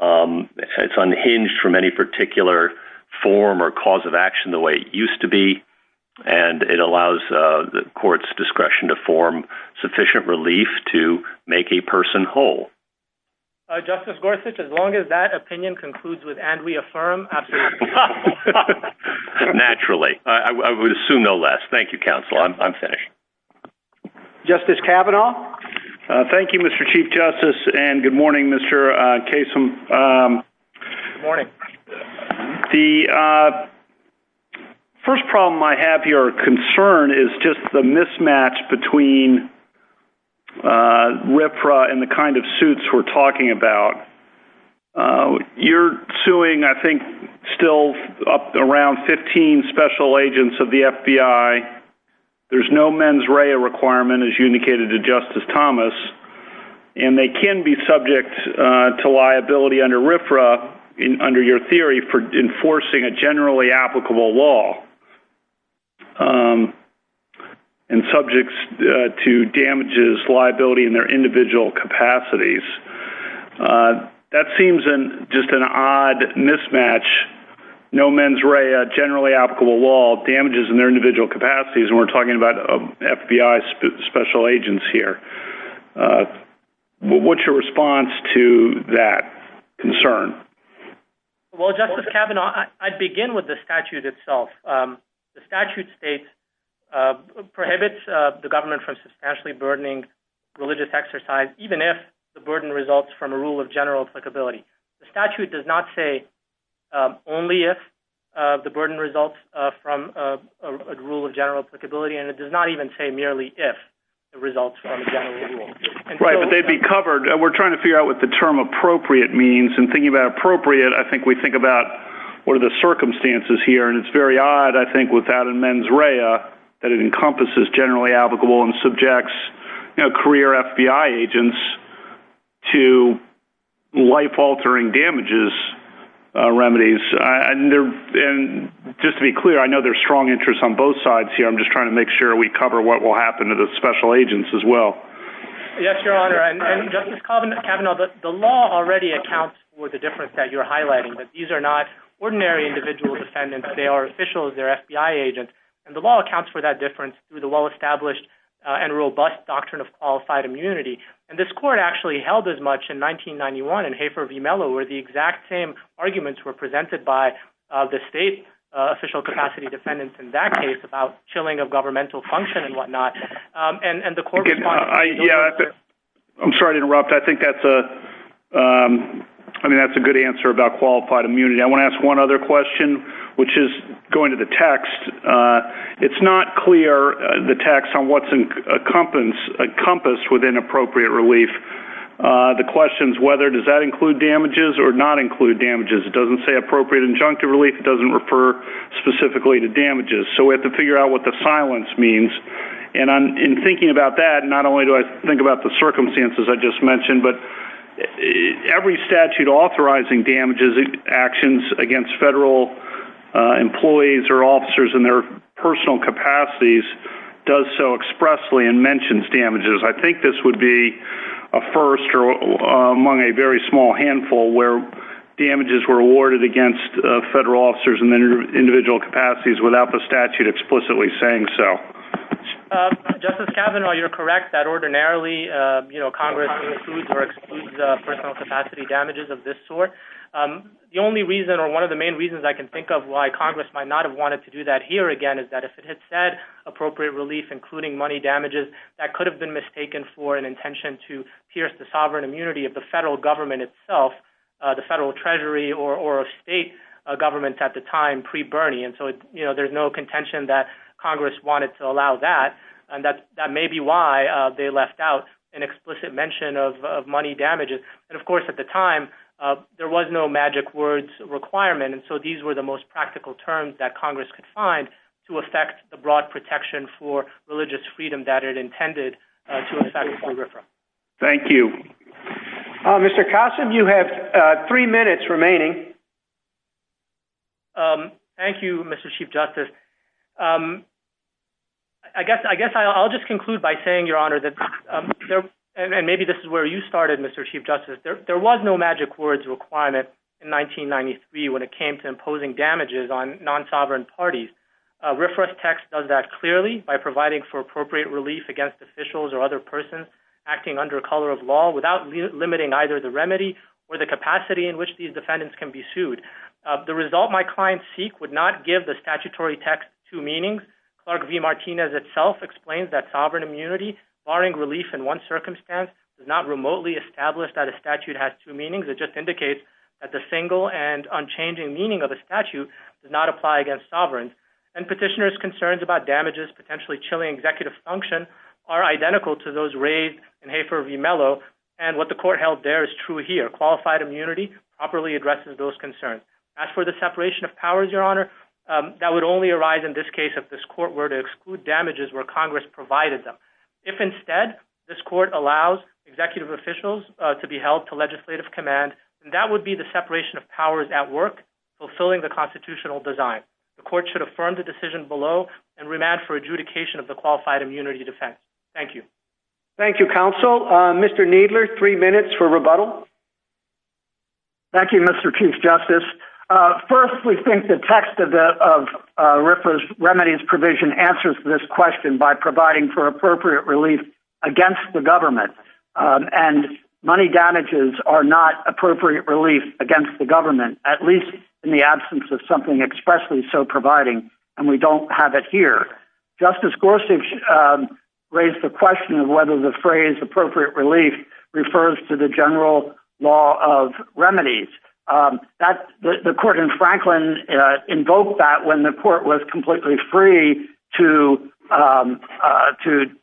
It's unhinged from any particular form or cause of action the way it used to be, and it allows the court's discretion to form sufficient relief to make a person whole. Justice Gorsuch, as long as that opinion concludes with and we affirm, absolutely. Naturally. I would assume no less. Thank you, counsel. I'm finished. Justice Kavanaugh. Thank you, Mr. Chief Justice, and good morning, Mr. Kasem. Good morning. The first problem I have here, or concern, is just the mismatch between RFRA and the kind of suits we're talking about. You're suing, I think, still around 15 special agents of the FBI. There's no mens rea requirement, as you indicated to Justice Thomas, and they can be subject to liability under RFRA, under your theory, for enforcing a generally applicable law and subjects to damages, liability in their individual capacities. That seems just an odd mismatch. No mens rea, generally applicable law, damages in their individual capacities, and we're talking about FBI special agents here. What's your response to that concern? Well, Justice Kavanaugh, I'd begin with the statute itself. The statute states, prohibits the government from substantially burdening religious exercise, even if the burden results from a rule of general applicability. The statute does not say only if the burden results from a rule of general applicability, and it does not even say merely if it results from a general rule. Right, but they'd be covered. We're trying to figure out the term appropriate means, and thinking about appropriate, I think we think about what are the circumstances here, and it's very odd, I think, without a mens rea that it encompasses generally applicable and subjects career FBI agents to life-altering damages remedies. Just to be clear, I know there's strong interest on both sides here. I'm just trying to make sure we cover what will happen to the special agents as well. Yes, Your Honor, and Justice Kavanaugh, the law already accounts for the difference that you're highlighting, that these are not ordinary individual defendants. They are officials. They're FBI agents, and the law accounts for that difference through the well-established and robust doctrine of qualified immunity, and this court actually held as much in 1991 in Hafer v Mello, where the exact same arguments were presented by the state official capacity defendants in that case about chilling of governmental function and whatnot, and the court responded. I'm sorry to interrupt. I think that's a good answer about qualified immunity. I want to ask one other question, which is going to the text. It's not clear, the text, on what's encompassed within appropriate relief. The question is whether does that include damages or not include damages. It doesn't say appropriate injunctive relief. It doesn't refer specifically to damages, so we have to figure out what the silence means, and in thinking about that, not only do I think about the circumstances I just mentioned, but every statute authorizing damages actions against federal employees or officers in their personal capacities does so expressly and mentions damages. I think this would be a first among a very small handful where damages were awarded against federal officers in their individual capacities without the statute explicitly saying so. Justice Kavanaugh, you're correct that ordinarily Congress includes or excludes personal capacity damages of this sort. The only reason or one of the main reasons I can think of why Congress might not have wanted to do that here again is that if it had said appropriate relief, including money damages, that could have been mistaken for an intention to pierce the sovereign immunity of the federal government itself, the federal treasury or a state government at the time pre-Bernie. There's no contention that Congress wanted to allow that, and that may be why they left out an explicit mention of money damages. Of course, at the time, there was no magic words requirement, and so these were the most practical terms that Congress could find to affect the broad protection for religious freedom that it intended to affect for RFRA. Thank you. Mr. Kossin, you have three minutes remaining. Thank you, Mr. Chief Justice. I guess I'll just conclude by saying, Your Honor, that and maybe this is where you started, Mr. Chief Justice, there was no magic words requirement in 1993 when it came to imposing damages on non-sovereign parties. RFRA's text does that clearly by providing for appropriate relief against officials or other persons acting under color of law without limiting either the remedy or the capacity in which these defendants can be sued. The result my clients seek would not give the statutory text two meanings. Clark v. Martinez itself explains that sovereign immunity, barring relief in one circumstance, does not remotely establish that a statute has two meanings. It just indicates that the single and unchanging meaning of a statute does not apply against sovereigns. And petitioners' concerns about damages potentially chilling executive function are identical to those raised in Hafer v. Mello, and what the court held there is true here. Qualified immunity properly addresses those concerns. As for the separation of powers, Your Honor, that would only arise in this case if this court were to exclude damages where Congress provided them. If instead, this court allows executive officials to be held to legislative command, then that would be the separation of powers at work fulfilling the constitutional design. The court should affirm the decision below and remand for adjudication of the qualified immunity defense. Thank you. Thank you, counsel. Mr. Kneedler, three minutes for rebuttal. Thank you, Mr. Chief Justice. First, we think the text of RFRA's remedies provision answers this question by providing for appropriate relief against the government. And money damages are not appropriate relief against the government, at least in the absence of something expressly so providing, and we don't have it here. Justice Gorsuch raised the question of whether the phrase appropriate relief refers to the general law of remedies. The court in Franklin invoked that when the court was completely free to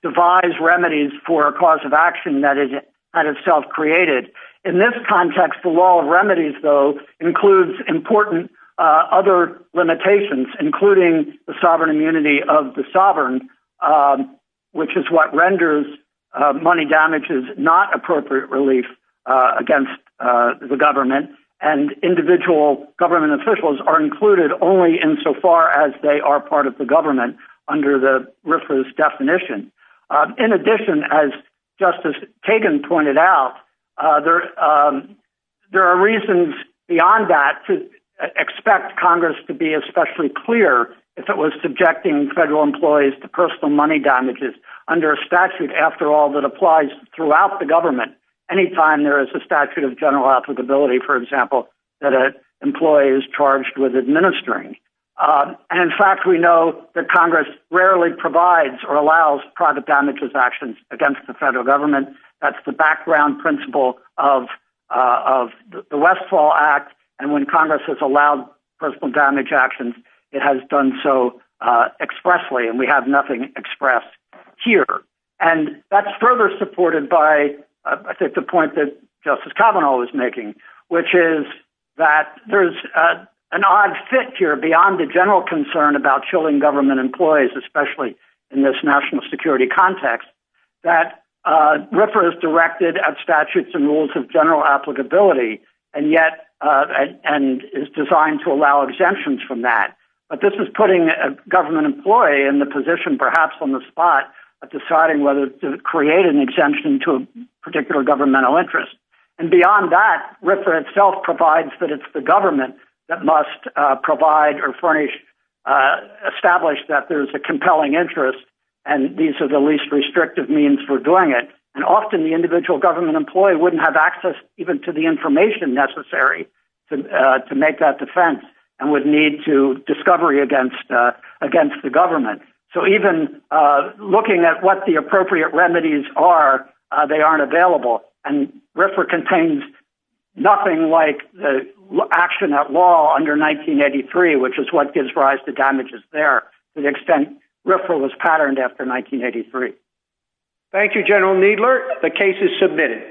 devise remedies for a cause of action that is kind of self-created. In this context, the law of remedies, though, includes important other limitations, including the sovereign immunity of the sovereign, which is what renders money damages not appropriate relief against the government. And individual government officials are included only insofar as they are part of the government under the RFRA's definition. In addition, as Justice Kagan pointed out, there are reasons beyond that to expect Congress to be especially clear if it was subjecting federal employees to personal money damages under a statute, after all, that applies throughout the government. Anytime there is a statute of general applicability, for example, that an employee is charged with administering. And in fact, we know that Congress rarely provides or allows private damages actions against the federal government. That's the background principle of the Westfall Act, and when Congress has allowed personal damage actions, it has done so expressly, and we have nothing expressed here. And that's further supported by, I think, the point that Justice Kavanaugh was making, which is that there's an odd fit here beyond the general concern about chilling government employees, especially in this national security context, that RFRA is directed at statutes and rules of general applicability, and yet, and is designed to allow exemptions from that. But this is putting a exemption to a particular governmental interest. And beyond that, RFRA itself provides that it's the government that must provide or furnish, establish that there's a compelling interest, and these are the least restrictive means for doing it. And often the individual government employee wouldn't have access even to the information necessary to make that defense, and would need to discovery against the government. So even looking at what the appropriate remedies are, they aren't available. And RFRA contains nothing like the action at law under 1983, which is what gives rise to damages there, to the extent RFRA was patterned after 1983. Thank you, General Needler. The case is submitted.